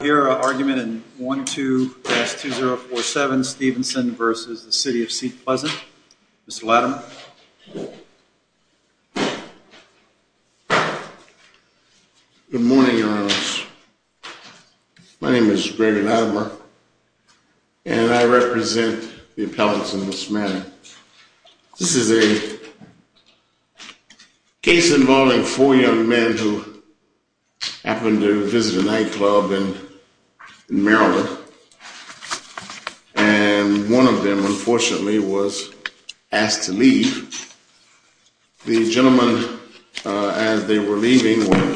Hear our argument in 12-2047 Stevenson v. City of Seat Pleasant. Mr. Latimer. Good morning, Your Honor. My name is Brandon Latimer, and I represent the appellants in this matter. This is a case involving four young men who happened to visit a nightclub in Maryland, and one of them unfortunately was asked to leave. The gentlemen as they were leaving were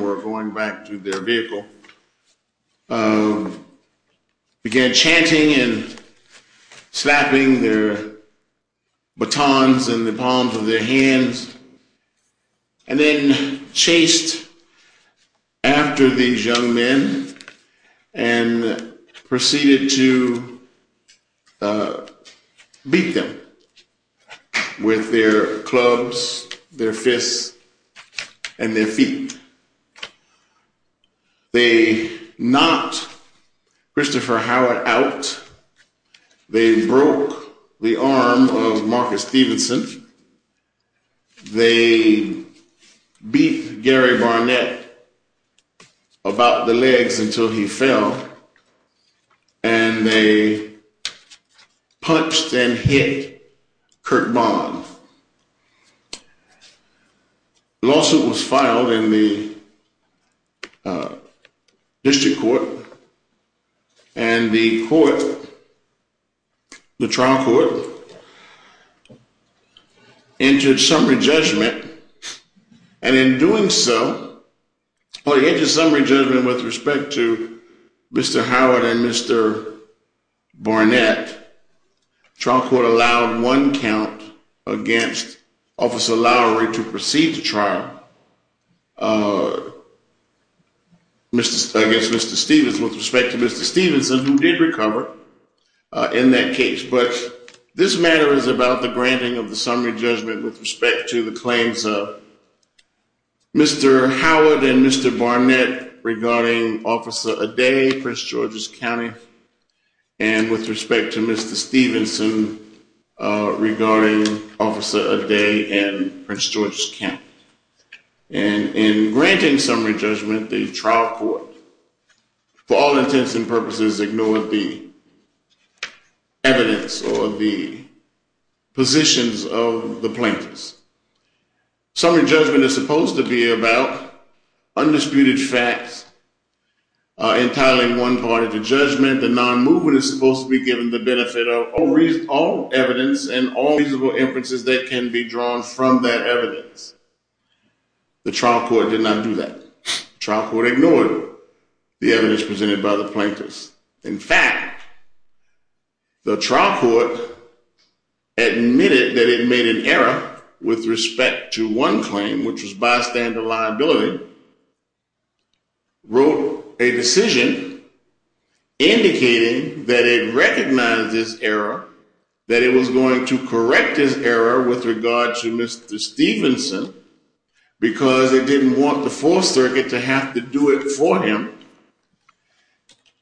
were going back to their vehicle, began chanting and slapping their batons in the palms of their hands, and then chased after these young men and proceeded to beat them with their clubs, their fists, and their feet. They knocked Christopher Howard out. They broke the arm of Marcus Stevenson. They beat Gary Barnett about the legs until he fell, and they punched and hit Kirk Bond. The lawsuit was filed in the district court, and the trial court entered summary judgment, and in doing so, on the edge of summary judgment with respect to Mr. Howard and Mr. Barnett, trial court allowed one count against Officer Lowry to proceed the trial against Mr. Stevens with respect to Mr. Stevenson, who did recover in that case, but this matter is about the granting of the summary judgment with respect to the claims of Mr. Howard and Mr. Barnett regarding Officer Aday, Prince George's County, and with respect to Mr. Stevenson regarding Officer Aday and Prince George's County. And in granting summary judgment, the trial court for all intents and purposes ignored the positions of the plaintiffs. Summary judgment is supposed to be about undisputed facts entitling one part of the judgment. The non-movement is supposed to be given the benefit of all evidence and all reasonable inferences that can be drawn from that evidence. The trial court did not do that. The trial court ignored the evidence presented by the plaintiffs. In fact, the trial court admitted that it made an error with respect to one claim, which was bystander liability, wrote a decision indicating that it recognized this error, that it was going to correct this error with regard to Mr. Stevenson, because it didn't want the Fourth Circuit to have to do it for him.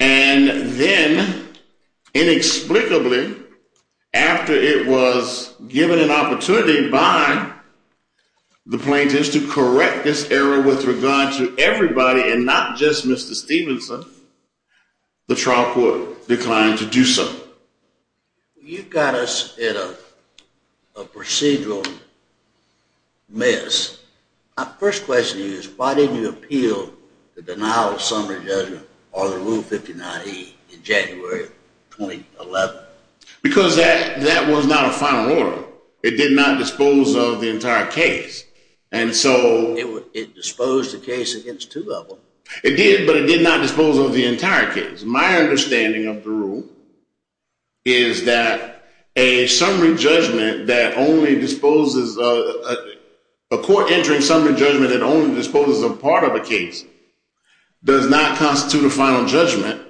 And then, inexplicably, after it was given an opportunity by the plaintiffs to correct this error with regard to everybody and not just Mr. Stevenson, the trial court declined to do so. You've got us in a procedural mess. My first question to you is, why didn't you appeal the denial of summary judgment under Rule 59E in January 2011? Because that was not a final order. It did not dispose of the entire case. And so it disposed the case against two of them. It did, but it did not dispose of the entire case. My understanding of the rule is that a court entering summary judgment that only disposes a part of a case does not constitute a final judgment,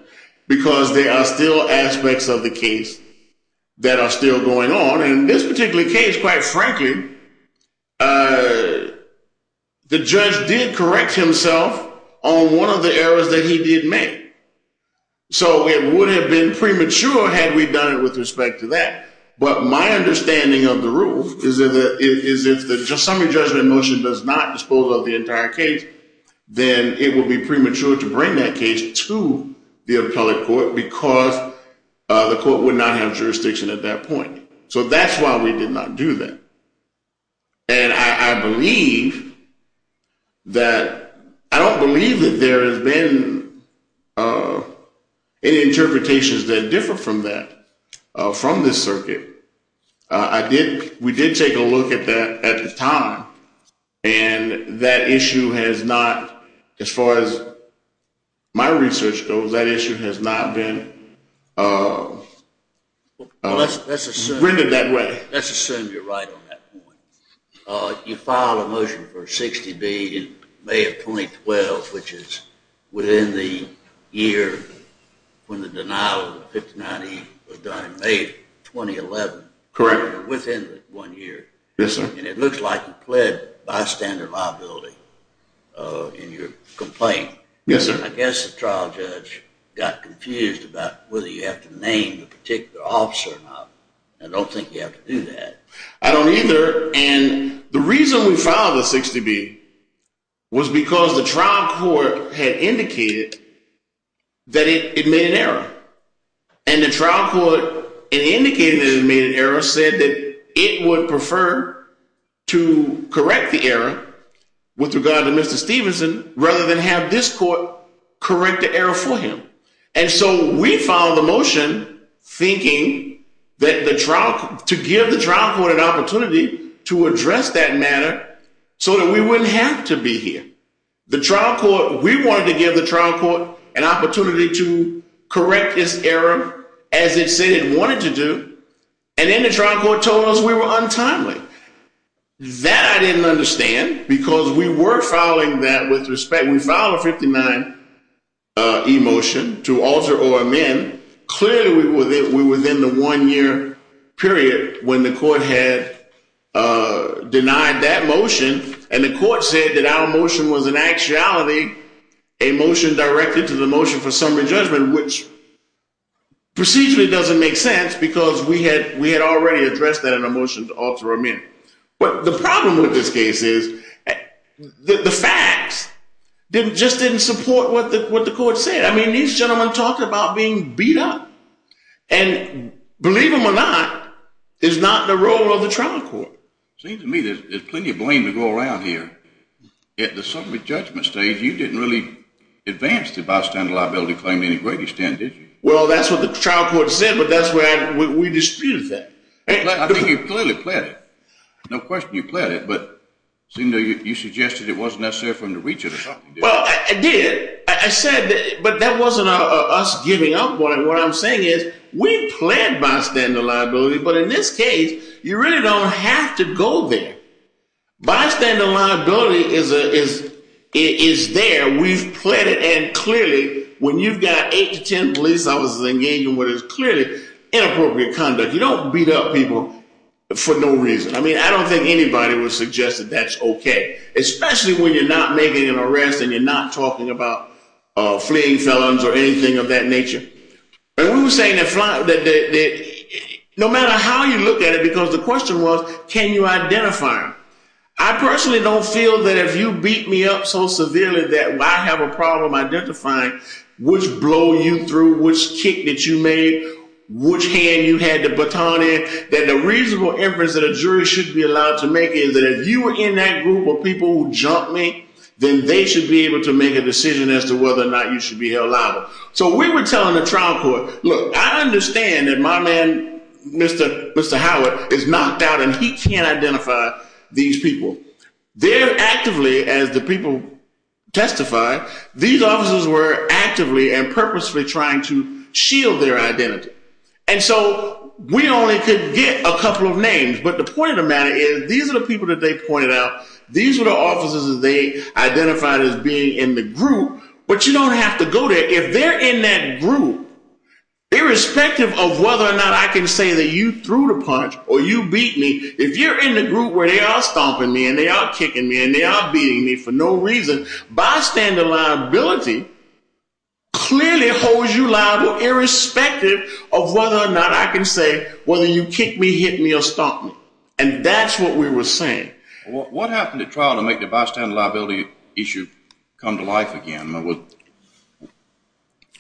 because there are still aspects of the case that are still going on. And in this particular case, quite frankly, the judge did correct himself on one of the errors that he did make. So it would have been premature had we done it with respect to that. But my understanding of the rule is that if the summary judgment motion does not dispose of the entire case, then it will be premature to bring that case to the appellate court because the court would not have jurisdiction at that point. So that's why we did not do that. And I don't believe that there has been any interpretations that differ from that from this circuit. We did take a look at that at the time, and that issue has not, as far as my research goes, that issue has not been rendered that way. Let's assume you're right on that point. You filed a motion for 60B in May of 2012, which is within the year when the denial of 59E was done in May of 2011. Correct. Within one year. Yes, sir. And it looks like you pled bystander liability in your complaint. Yes, sir. I guess the trial judge got confused about whether you have to name a particular officer or not. I don't think you have to do that. I don't either. And the reason we filed a 60B was because the trial court had indicated that it made an error. And the trial court, in indicating that it made an error, said that it would prefer to correct the error with regard to Mr. Stevenson rather than have this court correct the error for him. And so we filed the motion thinking to give the trial court an opportunity to address that matter so that we wouldn't have to be here. We wanted to give the trial court an opportunity to correct this error as it said it wanted to do, and then the trial court told us we were untimely. That I didn't understand because we were filing that with a 459E motion to alter or amend. Clearly, we were within the one-year period when the court had denied that motion, and the court said that our motion was in actuality a motion directed to the motion for summary judgment, which procedurally doesn't make sense because we had already addressed that in a motion to alter or amend. But the problem with this case is the facts just didn't support what the court said. I mean, these gentlemen talking about being beat up, and believe them or not, is not the role of the trial court. It seems to me there's plenty of blame to go around here. At the summary judgment stage, you didn't really advance the bystander liability claim to any great extent, did you? Well, that's what the trial court said, but that's where we disputed that. I think you clearly pled it. No question you pled it, but it seemed you suggested it wasn't necessary for them to reach it or something. Well, I did. I said that, but that wasn't us giving up. What I'm saying is we pled bystander liability, but in this case, you really don't have to go there. Bystander liability is there. We've pled it, and clearly when you've got eight to 10 police officers engaging in what is clearly inappropriate conduct, you don't beat up people for no reason. I mean, I don't think anybody would suggest that that's especially when you're not making an arrest and you're not talking about fleeing felons or anything of that nature. We were saying that no matter how you look at it, because the question was, can you identify them? I personally don't feel that if you beat me up so severely that I have a problem identifying which blow you through, which kick that you made, which hand you had the baton in, that the reasonable inference that a jury should be allowed to make is that if you were in that group of people who jumped me, then they should be able to make a decision as to whether or not you should be held liable. So we were telling the trial court, look, I understand that my man, Mr. Howard, is knocked out and he can't identify these people. They're actively, as the people testify, these officers were actively and purposely trying to shield their identity. And so we only could get a couple of names, but the point of the matter is these are the people that they pointed out. These are the officers that they identified as being in the group, but you don't have to go there. If they're in that group, irrespective of whether or not I can say that you threw the punch or you beat me, if you're in the group where they are stomping me and they are kicking me and they are beating me for no reason, bystander liability clearly holds you liable irrespective of whether or not I can say whether you kick me, hit me, or stomp me. And that's what we were saying. What happened at trial to make the bystander liability issue come to life again?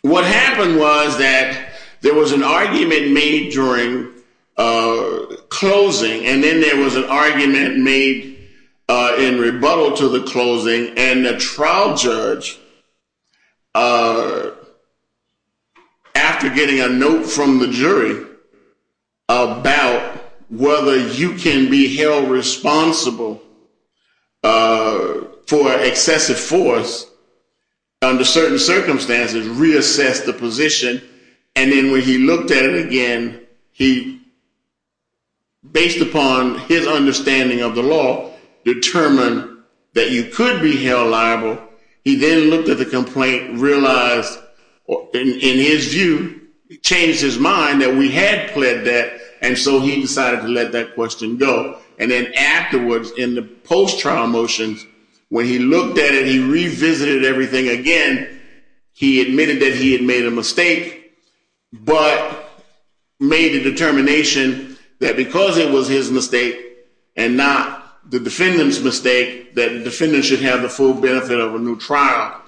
What happened was that there was an argument made during closing, and then there was an argument made in rebuttal to the closing, and the trial judge, after getting a note from the jury about whether you can be held responsible for excessive force under certain circumstances, reassessed the position. And then when he looked at it again, he, based upon his understanding of the law, determined that you could be held liable. He then looked at the complaint, realized, in his view, changed his mind that we had pled that, and so he decided to let that question go. And then afterwards, in the post-trial motions, when he looked at it, he revisited everything again. He admitted that he had made a mistake, but made a determination that because it was his mistake and not the defendant's mistake, that the defendant should have the full benefit of a new trial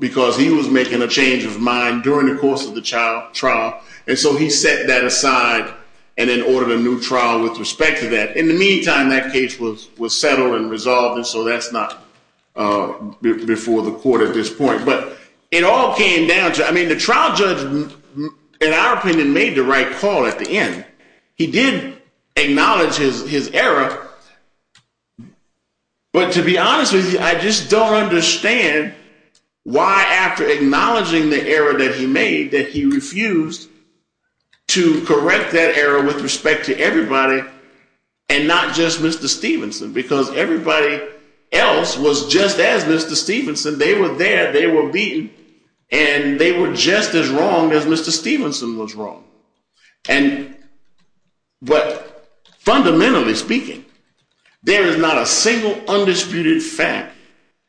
because he was making a change of mind during the course of the trial. And so he set that aside and then ordered a new trial with respect to that. In the meantime, that case was settled and resolved, and so that's not before the court at this point. But it all came down to, I mean, the trial judge, in our opinion, made the right call at the end. He did acknowledge his error, but to be honest with you, I just don't understand why, after acknowledging the error that he made, that he refused to correct that error with respect to everybody and not just Mr. Stevenson, because everybody else was just as Mr. Stevenson. They were there, they were beaten, and they were just as wrong as Mr. Stevenson was wrong. And but fundamentally speaking, there is not a single undisputed fact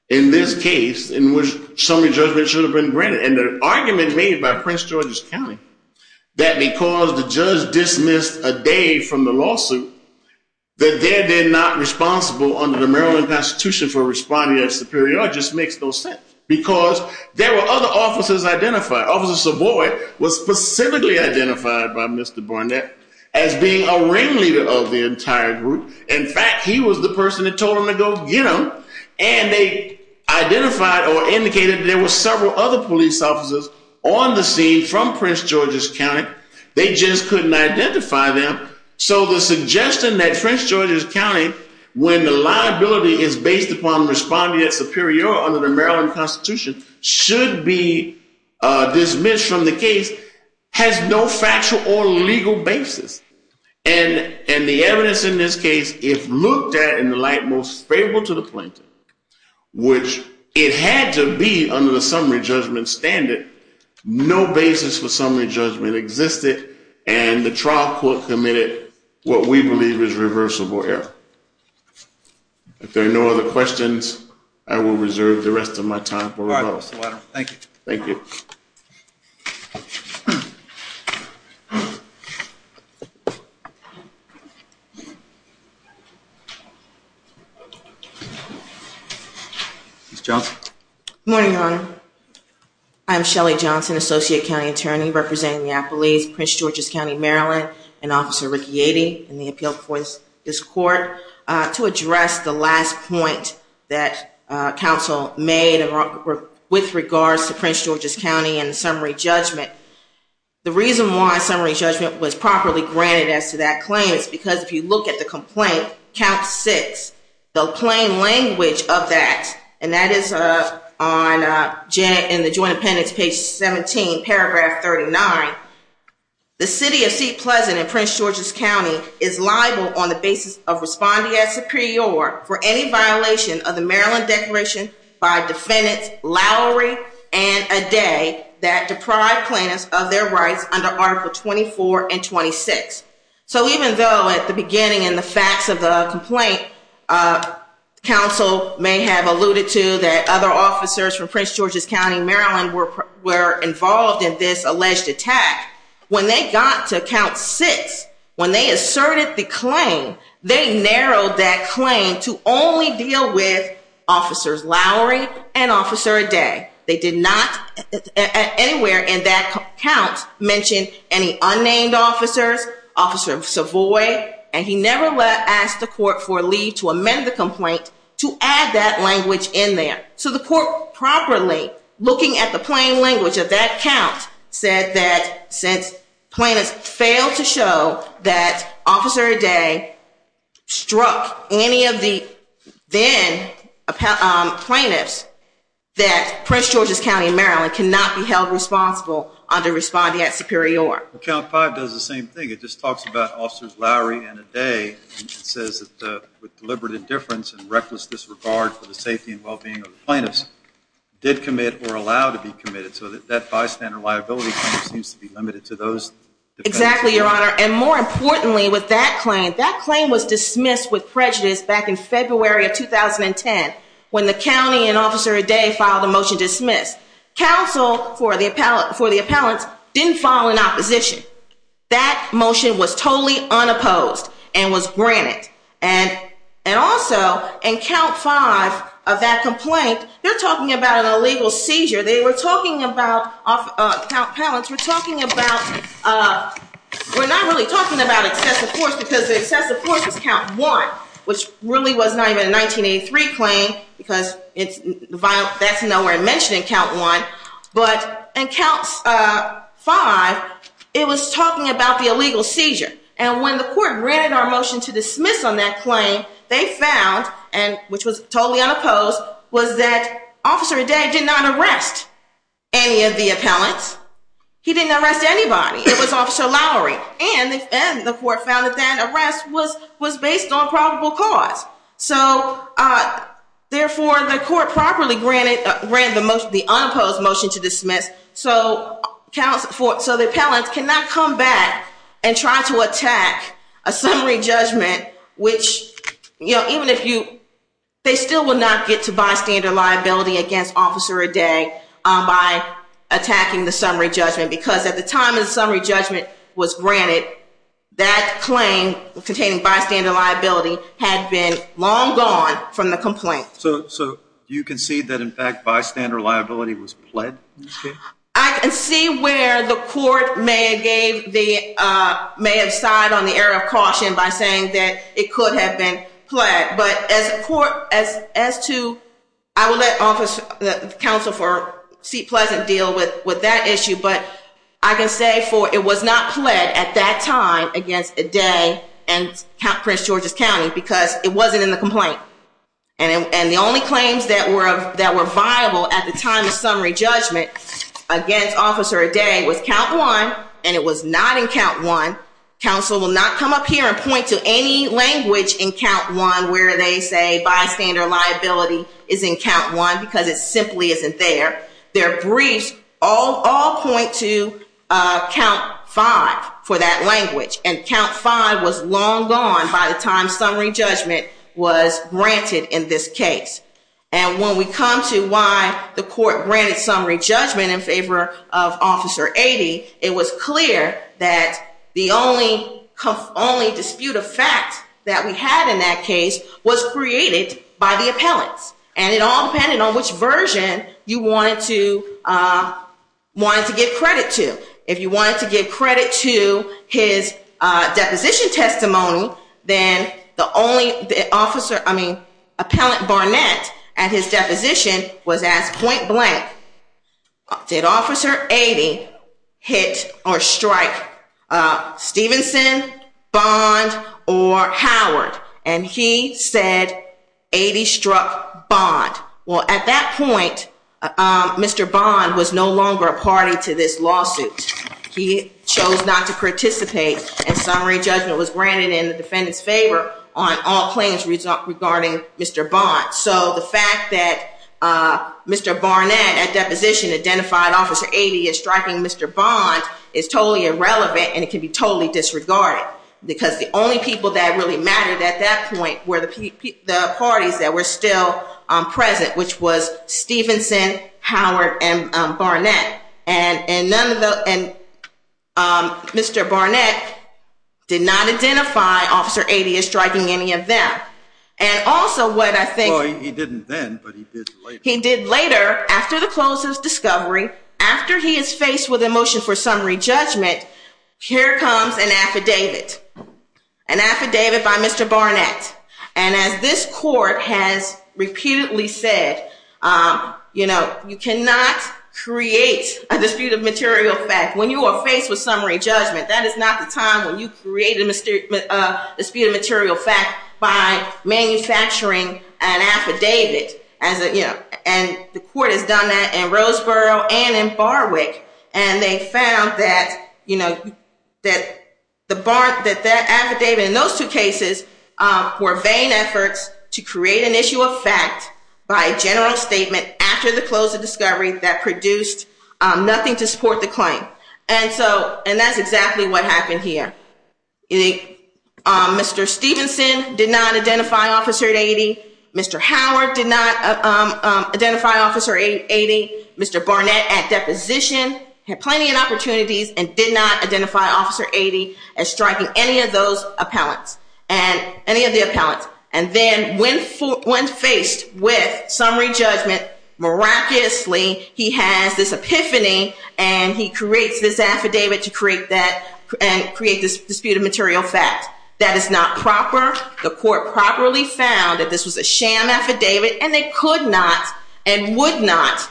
in this case in which summary judgment should have been granted. And the argument made by Prince George's County that because the judge dismissed a day from the lawsuit, that they're not responsible under the Maryland Constitution for responding as superior just makes no sense, because there were other officers identified. Officer Savoy was specifically identified by Mr. Burnett as being a ringleader of the entire group. In fact, he was the person that told him to go get them, and they identified or indicated there were several other police officers on the scene from Prince George's County. They just couldn't identify them. So the suggestion that Prince George's County, when the liability is based upon responding as superior under the Maryland Constitution, should be dismissed from the case has no factual or legal basis. And the evidence in this case, if looked at in the light most favorable to the plaintiff, which it had to be under the summary judgment standard, no basis for summary judgment existed, and the trial court committed what we believe is reversible error. If there are no other questions, I will reserve the rest of my time. Thank you. Thank you. Ms. Johnson. Good morning, Your Honor. I'm Shelley Johnson, Associate County Attorney representing the Appalachians, Prince George's County, Maryland, and Officer Ricky Yatey in the with regards to Prince George's County and the summary judgment. The reason why summary judgment was properly granted as to that claim is because if you look at the complaint, count six, the plain language of that, and that is on Janet, in the Joint Appendix, page 17, paragraph 39, the City of St. Pleasant in Prince George's County is liable on the basis of responding as superior for any violation of the Maryland Declaration by defendants Lowry and Aday that deprive plaintiffs of their rights under Article 24 and 26. So even though at the beginning in the facts of the complaint, counsel may have alluded to that other officers from Prince George's County, Maryland, were involved in this alleged attack, when they got to count six, when they asserted the claim, they narrowed that claim to only deal with officers Lowry and Officer Aday. They did not anywhere in that count mention any unnamed officers, Officer Savoy, and he never asked the court for leave to amend the complaint to add that language in there. So the court properly looking at the plain language of that count said that since plaintiffs failed to show that Officer Aday struck any of the then plaintiffs that Prince George's County, Maryland, cannot be held responsible under responding as superior. Count five does the same thing. It just talks about officers Lowry and Aday. It says that with deliberate indifference and reckless disregard for the safety and well-being of the plaintiffs, did commit or allow to be committed. So that bystander liability seems to be limited to those defendants. Exactly, Your Honor. And more importantly with that claim, that claim was dismissed with prejudice back in February of 2010 when the county and Officer Aday filed a motion to dismiss. Counsel for the appellants didn't file an opposition. That motion was totally unopposed and was granted. And also in count five of that complaint, they're talking about an illegal seizure. They were talking about, count appellants were talking about, we're not really talking about excessive force because the excessive force is count one, which really was not even a 1983 claim because that's nowhere mentioned in count one. But in counts five, it was talking about the illegal seizure. And when the court granted our motion to dismiss on that claim, they found, and which was totally unopposed, was that Officer Aday did not arrest any of the appellants. He didn't arrest anybody. It was Officer Lowry. And the court found that that arrest was based on probable cause. So therefore, the court properly granted the unopposed motion to dismiss so the appellants cannot come back and try to attack a summary judgment, which, you know, even if you, they still will not get to bystander liability against Officer Aday by attacking the summary judgment because at the time of the summary judgment was granted, that claim containing bystander liability had been long gone from the complaint. So you concede that in fact bystander liability was pled? I can see where the court may have gave the, may have signed on the error of caution by saying that it could have been pled. But as a court, as to, I will let office, the counsel for seat pleasant deal with that issue. But I can say for it was not pled at that time against Aday and Prince George's County because it wasn't in the complaint. And the only claims that were viable at the time summary judgment against Officer Aday was count one, and it was not in count one. Counsel will not come up here and point to any language in count one where they say bystander liability is in count one because it simply isn't there. Their briefs all point to count five for that language. And count five was long gone by the time summary judgment was granted in this case. And when we come to why the court granted summary judgment in favor of Officer Aday, it was clear that the only dispute of fact that we had in that case was created by the appellants. And it all depended on which version you wanted to, wanted to give credit to. If you wanted to give his deposition was asked point blank, did Officer Aday hit or strike Stevenson, Bond, or Howard? And he said Aday struck Bond. Well, at that point, Mr. Bond was no longer a party to this lawsuit. He chose not to participate and summary judgment was granted in the defendant's favor on all claims regarding Mr. Bond. So the fact that Mr. Barnett, at deposition, identified Officer Aday as striking Mr. Bond is totally irrelevant and it can be totally disregarded because the only people that really mattered at that point were the parties that were still present, which was Stevenson, Howard, and Barnett. And Mr. Barnett did not identify Officer Aday as striking any of them. And also what I think... He didn't then, but he did later. He did later, after the close of discovery, after he is faced with a motion for summary judgment, here comes an affidavit, an affidavit by Mr. Barnett. And as this court has repeatedly said, you know, you cannot create a dispute of material fact when you are faced with summary judgment. That is not the time when you create a dispute of material fact by manufacturing an affidavit. And the court has done that in Roseboro and in Barwick. And they found that, you know, that the affidavit in those two cases were vain efforts to create an issue of fact by a general statement after the close of discovery that produced nothing to support the claim. And that's exactly what happened here. Mr. Stevenson did not identify Officer Aday. Mr. Howard did not identify Officer Aday. Mr. Barnett, at deposition, had plenty of opportunities and did not identify Officer Aday as striking any of those appellants, any of the appellants. And then when faced with summary judgment, miraculously, he has this epiphany, and he creates this affidavit to create that and create this dispute of material fact. That is not proper. The court properly found that this was a sham affidavit, and they could not and would not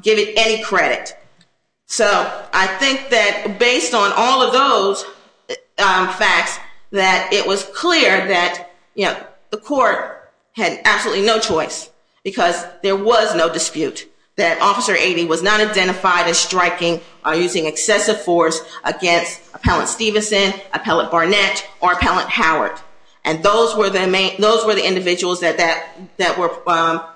give it any credit. So I think that based on all of those facts, that it was clear that, you know, the court had absolutely no choice because there was no dispute that Officer Aday was not identified as striking or using excessive force against Appellant Stevenson, Appellant Barnett, or Appellant Howard. And those were the individuals that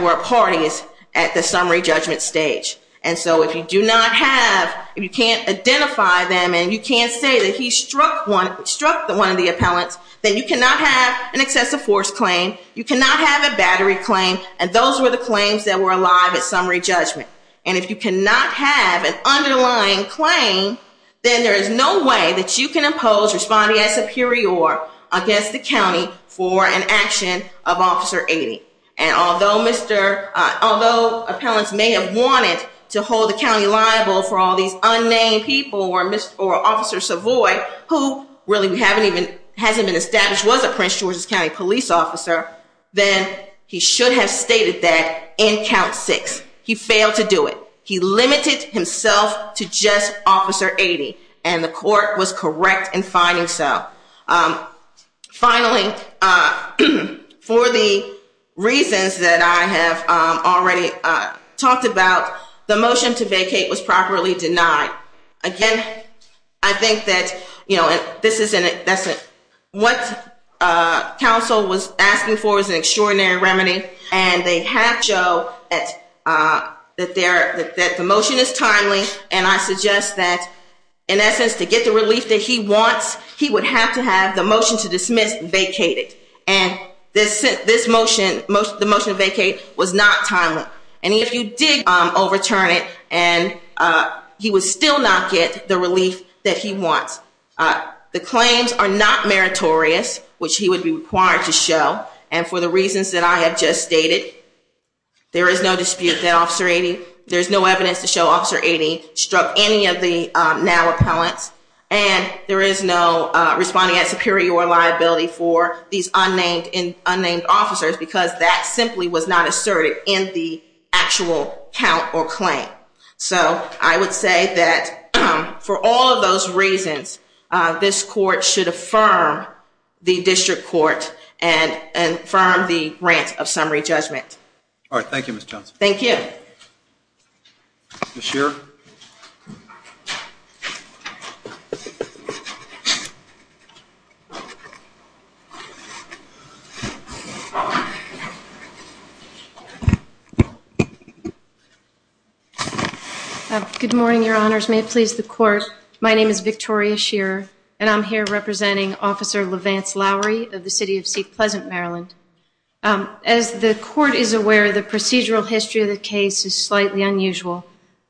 were parties at the summary judgment stage. And so if you do not have, if you can't identify them and you can't say that he struck one, struck one of the appellants, then you cannot have an excessive force claim, you cannot have a battery claim, and those were the claims that were alive at summary judgment. And if you cannot have an underlying claim, then there is no way that you can impose responding as superior against the county for an action of Officer Aday. And although although appellants may have wanted to hold the county liable for all these unnamed people, or Officer Savoy, who really hasn't been established, was a Prince George's County police officer, then he should have stated that in count six. He failed to do it. He limited himself to just Officer Aday, and the court was correct in finding so. Finally, for the motion that I have already talked about, the motion to vacate was properly denied. Again, I think that, you know, this is an, what council was asking for is an extraordinary remedy, and they have shown that the motion is timely, and I suggest that, in essence, to get the relief that he wants, he would have to have the motion to dismiss vacated. And this motion, the motion to vacate, was not timely. And if you did overturn it, and he would still not get the relief that he wants. The claims are not meritorious, which he would be required to show, and for the reasons that I have just stated, there is no dispute that Officer Aday, there's no evidence to show Officer Aday struck any of the now appellants, and there is no responding as superior liability for these was not asserted in the actual count or claim. So, I would say that for all of those reasons, this court should affirm the district court and affirm the grant of summary judgment. All right. Thank you, Ms. Johnson. Thank you. Ms. Shearer. Good morning, Your Honors. May it please the Court. My name is Victoria Shearer, and I'm here representing Officer LeVance Lowry of the City of Seat Pleasant, Maryland. As the Court is aware, the procedural history of the case is slightly unusual,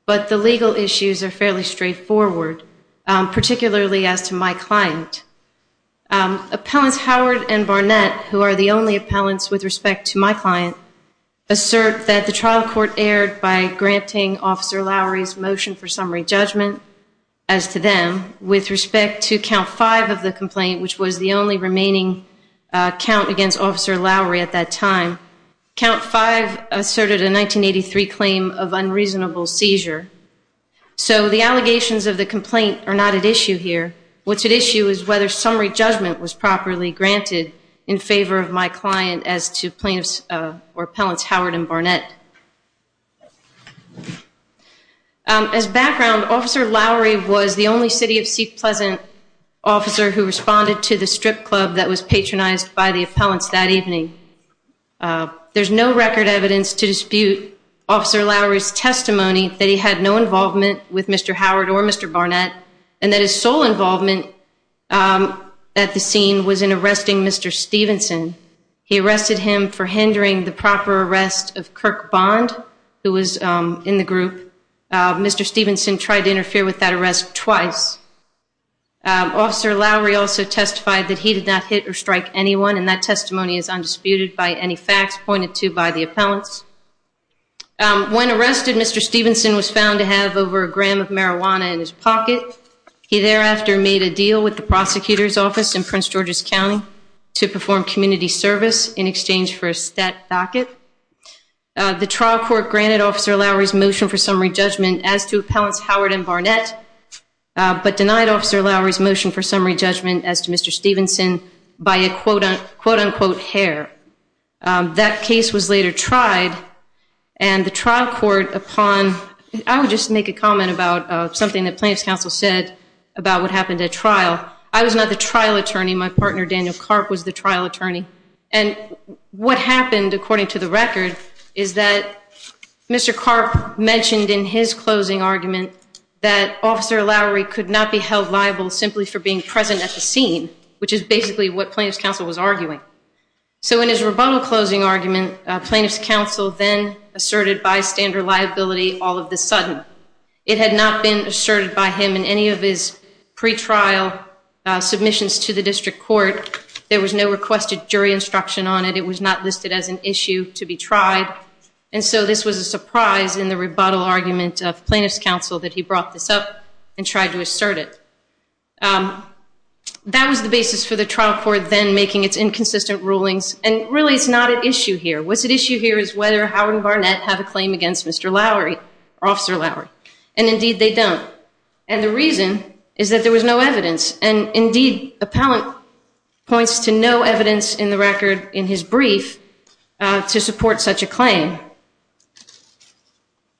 but the legal issues are fairly straightforward, particularly as to my client. Appellants Howard and Barnett, who are the only appellants with to my client, assert that the trial court erred by granting Officer Lowry's motion for summary judgment as to them. With respect to Count 5 of the complaint, which was the only remaining count against Officer Lowry at that time, Count 5 asserted a 1983 claim of unreasonable seizure. So, the allegations of the complaint are not at issue here. What's at issue is whether summary judgment was properly granted in favor of my client as to plaintiffs or appellants Howard and Barnett. As background, Officer Lowry was the only City of Seat Pleasant officer who responded to the strip club that was patronized by the appellants that evening. There's no record evidence to dispute Officer Lowry's testimony that he had no involvement with Mr. Howard or Mr. Barnett, and that his sole involvement at the scene was in arresting Mr. Stevenson. He arrested him for hindering the proper arrest of Kirk Bond, who was in the group. Mr. Stevenson tried to interfere with that arrest twice. Officer Lowry also testified that he did not hit or strike anyone, and that testimony is undisputed by any facts pointed to by the appellants. When arrested, Mr. Stevenson was found to have over a gram of marijuana in his pocket. He thereafter made a deal with the prosecutor's office in Prince George's County to perform community service in exchange for a stat docket. The trial court granted Officer Lowry's motion for summary judgment as to appellants Howard and Barnett, but denied Officer Lowry's motion for summary judgment as to Mr. Stevenson by a quote-unquote hair. That case was later tried, and the trial court upon, I would just make a comment about something that plaintiff's counsel said about what happened at trial. I was not the trial attorney. My partner Daniel Karp was the trial attorney, and what happened according to the record is that Mr. Karp mentioned in his closing argument that Officer Lowry could not be held liable simply for being present at the scene, which is basically what plaintiff's counsel was arguing. So in his rebuttal closing argument, plaintiff's counsel then asserted bystander liability all of the sudden. It had not been asserted by him in any of his pre-trial submissions to the district court. There was no requested jury instruction on it. It was not listed as an issue to be tried, and so this was a surprise in the rebuttal argument of plaintiff's counsel that he brought this up and tried to assert it. That was the basis for the trial court then making its inconsistent rulings, and really it's not an issue here. What's at issue here is whether Howard and Barnett have a claim against Mr. Lowry or Officer Lowry, and indeed they don't, and the reason is that there was no evidence, and indeed appellant points to no evidence in the record in his brief to support such a claim.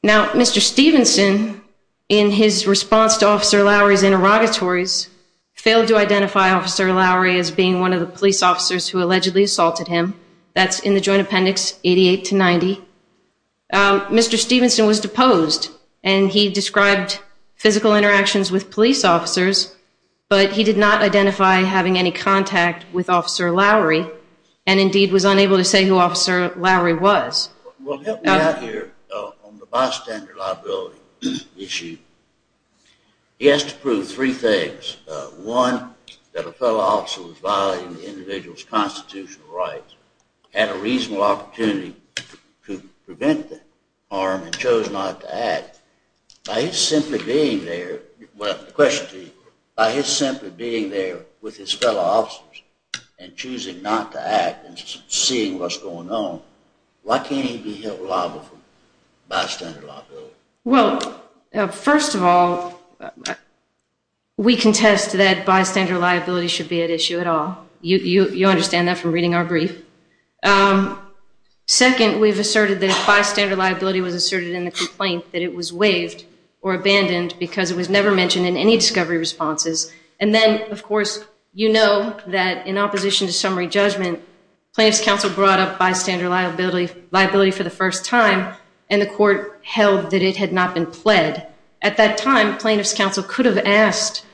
Now Mr. Stevenson, in his response to Officer Lowry's interrogatories, failed to identify Officer Lowry as being one of the police officers who allegedly assaulted him. That's in the joint appendix 88 to 90. Mr. Stevenson was deposed, and he described physical interactions with police officers, but he did not identify having any contact with Officer Lowry, and indeed was unable to say who Officer Lowry was. Well, help me out here on the bystander liability issue. He has to prove three things. One, that a fellow officer was violating the individual's constitutional rights, had a reasonable opportunity to prevent the harm, and chose not to act. By his simply being there, well the question to you, by his simply being there with his fellow officers and choosing not to see what's going on, why can't he be held liable for bystander liability? Well, first of all, we contest that bystander liability should be at issue at all. You understand that from reading our brief. Second, we've asserted that if bystander liability was asserted in the complaint that it was waived or abandoned because it was never mentioned in any discovery responses, and then, of course, you know that in opposition to summary judgment, plaintiff's counsel brought up bystander liability for the first time, and the court held that it had not been pled. At that time, plaintiff's counsel could have asked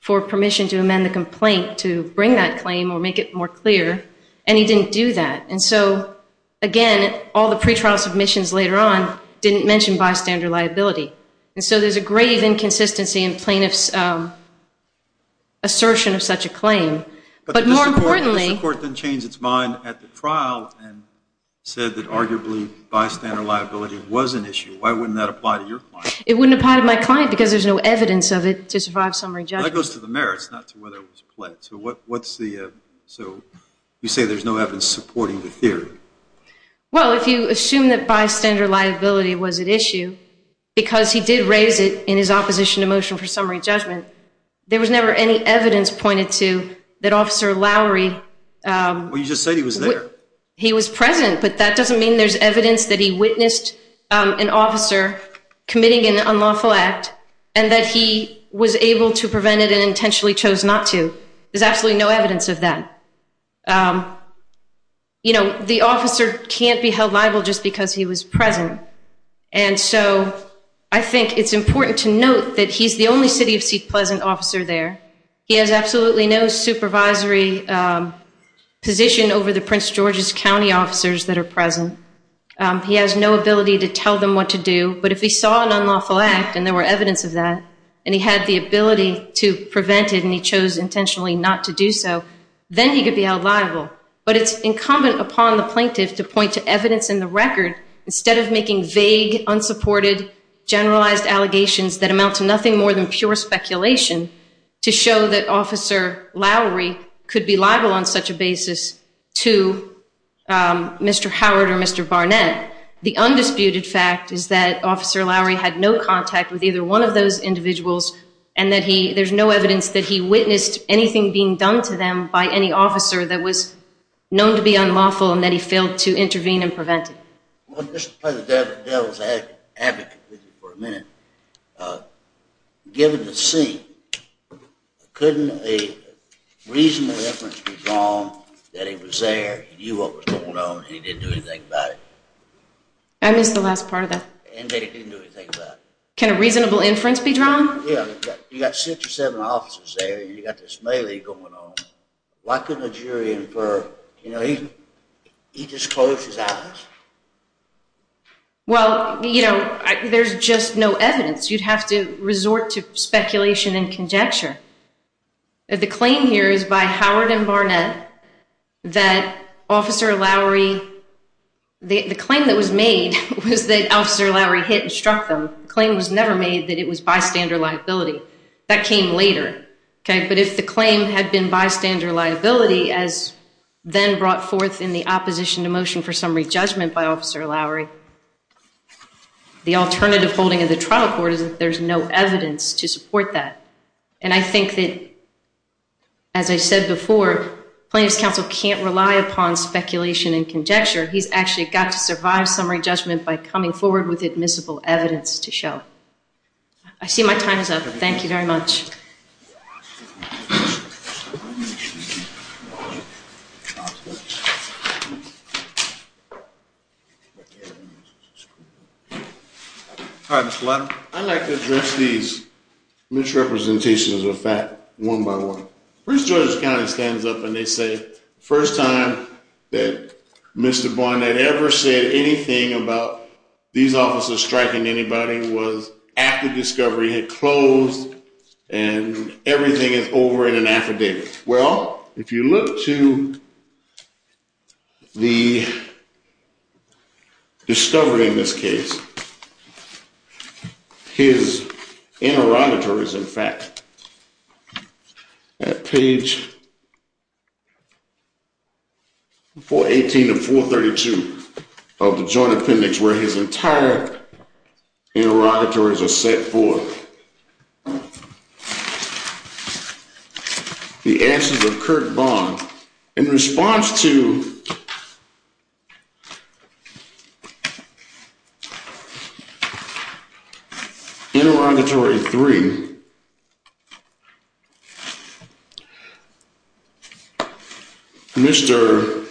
for permission to amend the complaint to bring that claim or make it more clear, and he didn't do that, and so again, all the pretrial submissions later on didn't mention bystander liability, and so there's a grave inconsistency in plaintiff's assertion of such a claim, but more importantly... But the court then changed its mind at the trial and said that arguably bystander liability was an issue. Why wouldn't that apply to your client? It wouldn't apply to my client because there's no evidence of it to survive summary judgment. That goes to the merits, not to whether it was pled. So what's the... So you say there's no evidence supporting the theory. Well, if you assume that bystander liability was at issue because he did raise it in his opposition to motion for summary judgment, there was never any evidence pointed to that Officer Lowry... Well, you just said he was there. He was present, but that doesn't mean there's evidence that he witnessed an officer committing an unlawful act and that he was able to prevent it and intentionally chose not to. There's absolutely no evidence of that. The officer can't be held liable just because he was present, and so I think it's important to note that he's the only City of Seat Pleasant officer there. He has absolutely no supervisory position over the Prince George's County officers that are present. He has no ability to tell them what to do, but if he saw an unlawful act and there were evidence of that and he had the ability to prevent it and he chose intentionally not to do so, then he could be held liable. But it's incumbent upon the plaintiff to point to evidence in the record instead of making vague, unsupported, generalized allegations that amount to nothing more than pure speculation to show that Officer Lowry could be liable on such a basis to Mr. Howard or Mr. Barnett. The undisputed fact is that Officer Lowry had no contact with either one of those individuals and that there's no evidence that he witnessed anything being done to them by any officer that known to be unlawful and that he failed to intervene and prevent it. Well, just to play the devil's advocate with you for a minute, given the scene, couldn't a reasonable inference be drawn that he was there, he knew what was going on, and he didn't do anything about it? I missed the last part of that. And that he didn't do anything about it. Can a reasonable inference be drawn? Yeah, you've got six or seven officers there, and you've got this melee going on. Why couldn't a jury infer he disclosed his actions? Well, there's just no evidence. You'd have to resort to speculation and conjecture. The claim here is by Howard and Barnett that Officer Lowry, the claim that was made was that Officer Lowry hit and struck them. The claim was never made that it was bystander liability. That came later. But if the claim had been bystander liability, as then brought forth in the opposition to motion for summary judgment by Officer Lowry, the alternative holding of the trial court is that there's no evidence to support that. And I think that, as I said before, plaintiff's counsel can't rely upon speculation and conjecture. He's actually got to survive summary judgment by coming forward with admissible evidence to show. I see my time is up. Thank you very much. I'd like to address these misrepresentations of fact one by one. Prince George's County stands up and they say the first time that Mr. Barnett ever said anything about these officers striking anybody was after Discovery had closed and everything is over in an affidavit. Well, if you look to the Discovery in this case, his interrogatories, in fact, at page 418 of 432 of the Joint Appendix, where his entire interrogatories are set for the answers of Kirk Bond, in response to Interrogatory 3, Mr.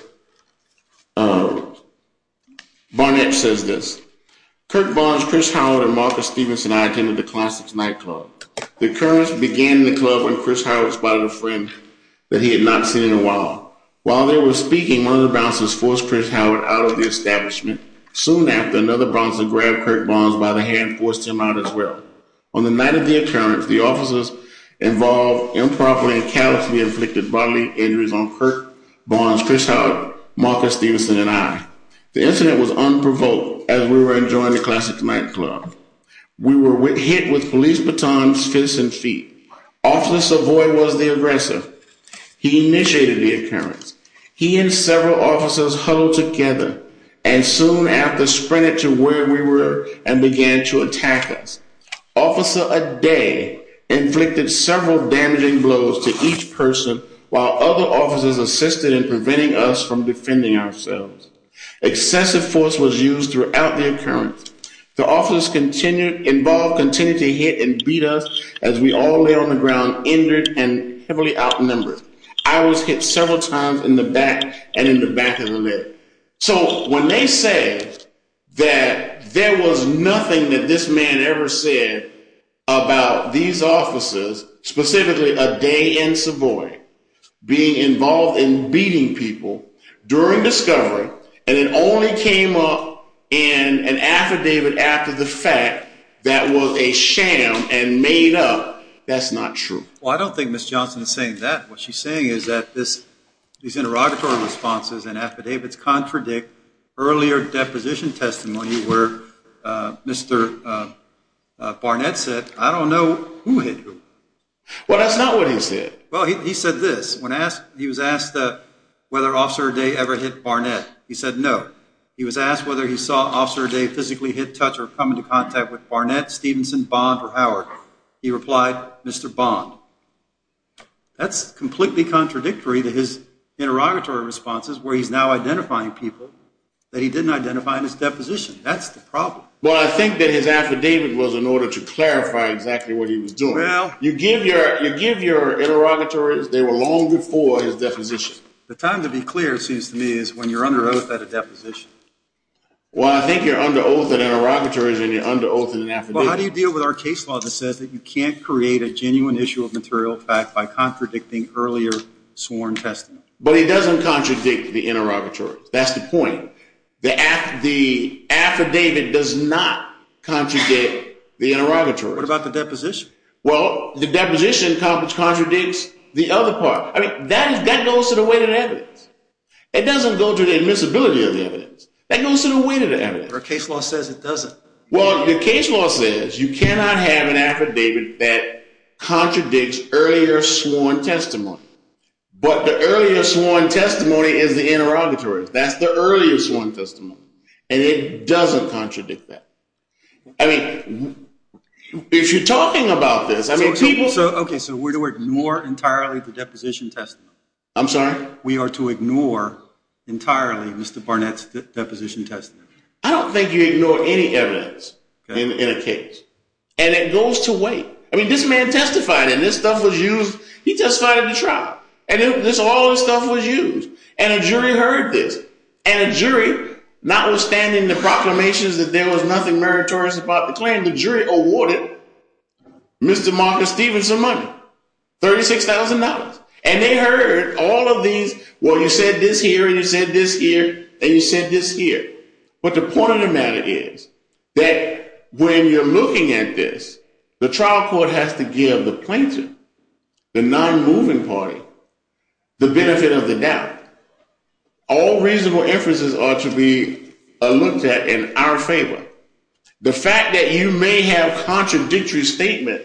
Barnett says this, Kirk Bond, Chris Howard, and Martha Stephenson and I attended the Classics Nightclub. The occurrence began in the club when Chris Howard spotted a friend that he had not seen in a while. While they were speaking, one of the bouncers forced Chris Howard out of the establishment. Soon after, another bouncer grabbed Kirk Bond by the hand and forced him out as well. On the night of the occurrence, the officers involved improperly and callously inflicted bodily injuries on Kirk Bond, Chris Howard, Martha Stephenson, and I. The incident was unprovoked as we were enjoying the Classics Nightclub. We were hit with police batons, fists, and feet. Officer Savoy was the aggressor. He initiated the occurrence. He and several officers huddled together and soon after sprinted to where we were and began to attack us. Officer Aday inflicted several damaging blows to each person while other officers assisted in preventing us from defending ourselves. Excessive force was used throughout the occurrence. The officers involved continued to hit and beat us as we all lay on the ground injured and heavily outnumbered. I was hit several times in the back and in the back of the leg. So when they said that there was nothing that this man ever said about these officers, specifically Aday and Savoy, being involved in beating people during discovery and it affidavit after the fact that was a sham and made up, that's not true. Well, I don't think Ms. Johnson is saying that. What she's saying is that these interrogatory responses and affidavits contradict earlier deposition testimony where Mr. Barnett said, I don't know who hit who. Well, that's not what he said. Well, he said this. He was asked whether Officer Aday ever hit Barnett. He said no. He was asked whether he saw Officer Aday physically hit, touch, or come into contact with Barnett, Stevenson, Bond, or Howard. He replied, Mr. Bond. That's completely contradictory to his interrogatory responses where he's now identifying people that he didn't identify in his deposition. That's the problem. Well, I think that his affidavit was in order to clarify exactly what he was doing. You give your interrogatories, they were long before his deposition. The time to be clear, it seems to me, is when you're under oath at a deposition. Well, I think you're under oath at interrogatories and you're under oath in an affidavit. Well, how do you deal with our case law that says that you can't create a genuine issue of material fact by contradicting earlier sworn testimony? But he doesn't contradict the interrogatories. That's the point. The affidavit does not contradict the interrogatories. What about the deposition? Well, the deposition contradicts the other part. That goes to the weight of the evidence. It doesn't go to the admissibility of the evidence. That goes to the weight of the evidence. Our case law says it doesn't. Well, the case law says you cannot have an affidavit that contradicts earlier sworn testimony. But the earlier sworn testimony is the interrogatories. That's the earlier sworn testimony. And it doesn't contradict that. If you're talking about this, I mean, people- So we're to ignore entirely the deposition testimony? I'm sorry? We are to ignore entirely Mr. Barnett's deposition testimony? I don't think you ignore any evidence in a case. And it goes to weight. I mean, this man testified and this stuff was used. He testified at the trial. And all this stuff was used. And a jury heard this. And a jury, notwithstanding the proclamations that there was nothing meritorious about the $36,000, and they heard all of these. Well, you said this here, and you said this here, and you said this here. But the point of the matter is that when you're looking at this, the trial court has to give the plaintiff, the non-moving party, the benefit of the doubt. All reasonable inferences are to be looked at in our favor. The fact that you may have contradictory statement,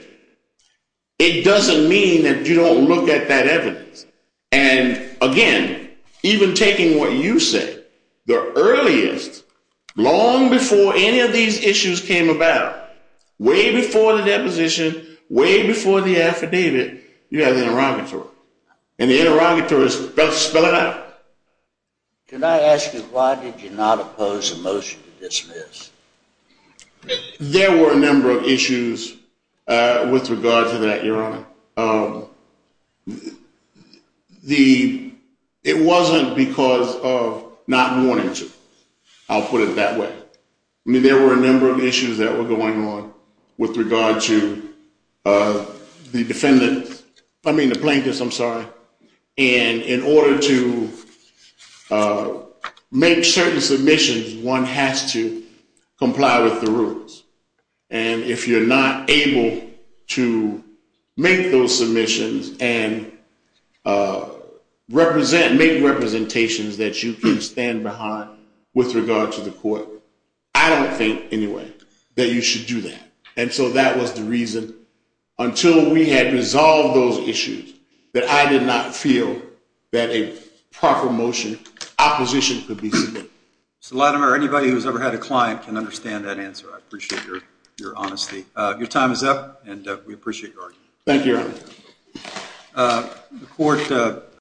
it doesn't mean that you don't look at that evidence. And again, even taking what you said, the earliest, long before any of these issues came about, way before the deposition, way before the affidavit, you have the interrogatory. And the interrogatory is to spell it out. Can I ask you, why did you not oppose the motion to dismiss? I mean, there were a number of issues with regard to that, Your Honor. It wasn't because of not wanting to. I'll put it that way. I mean, there were a number of issues that were going on with regard to the defendant, I mean, the plaintiffs, I'm sorry. And in order to make certain submissions, one has to comply with the rules. And if you're not able to make those submissions and make representations that you can stand behind with regard to the court, I don't think anyway that you should do that. And so that was the reason, until we had resolved those issues, that I did not feel that a proper motion, opposition, could be submitted. Mr. Latimer, anybody who's ever had a client can understand that answer. I appreciate your honesty. Your time is up, and we appreciate your argument. Thank you, Your Honor. The Court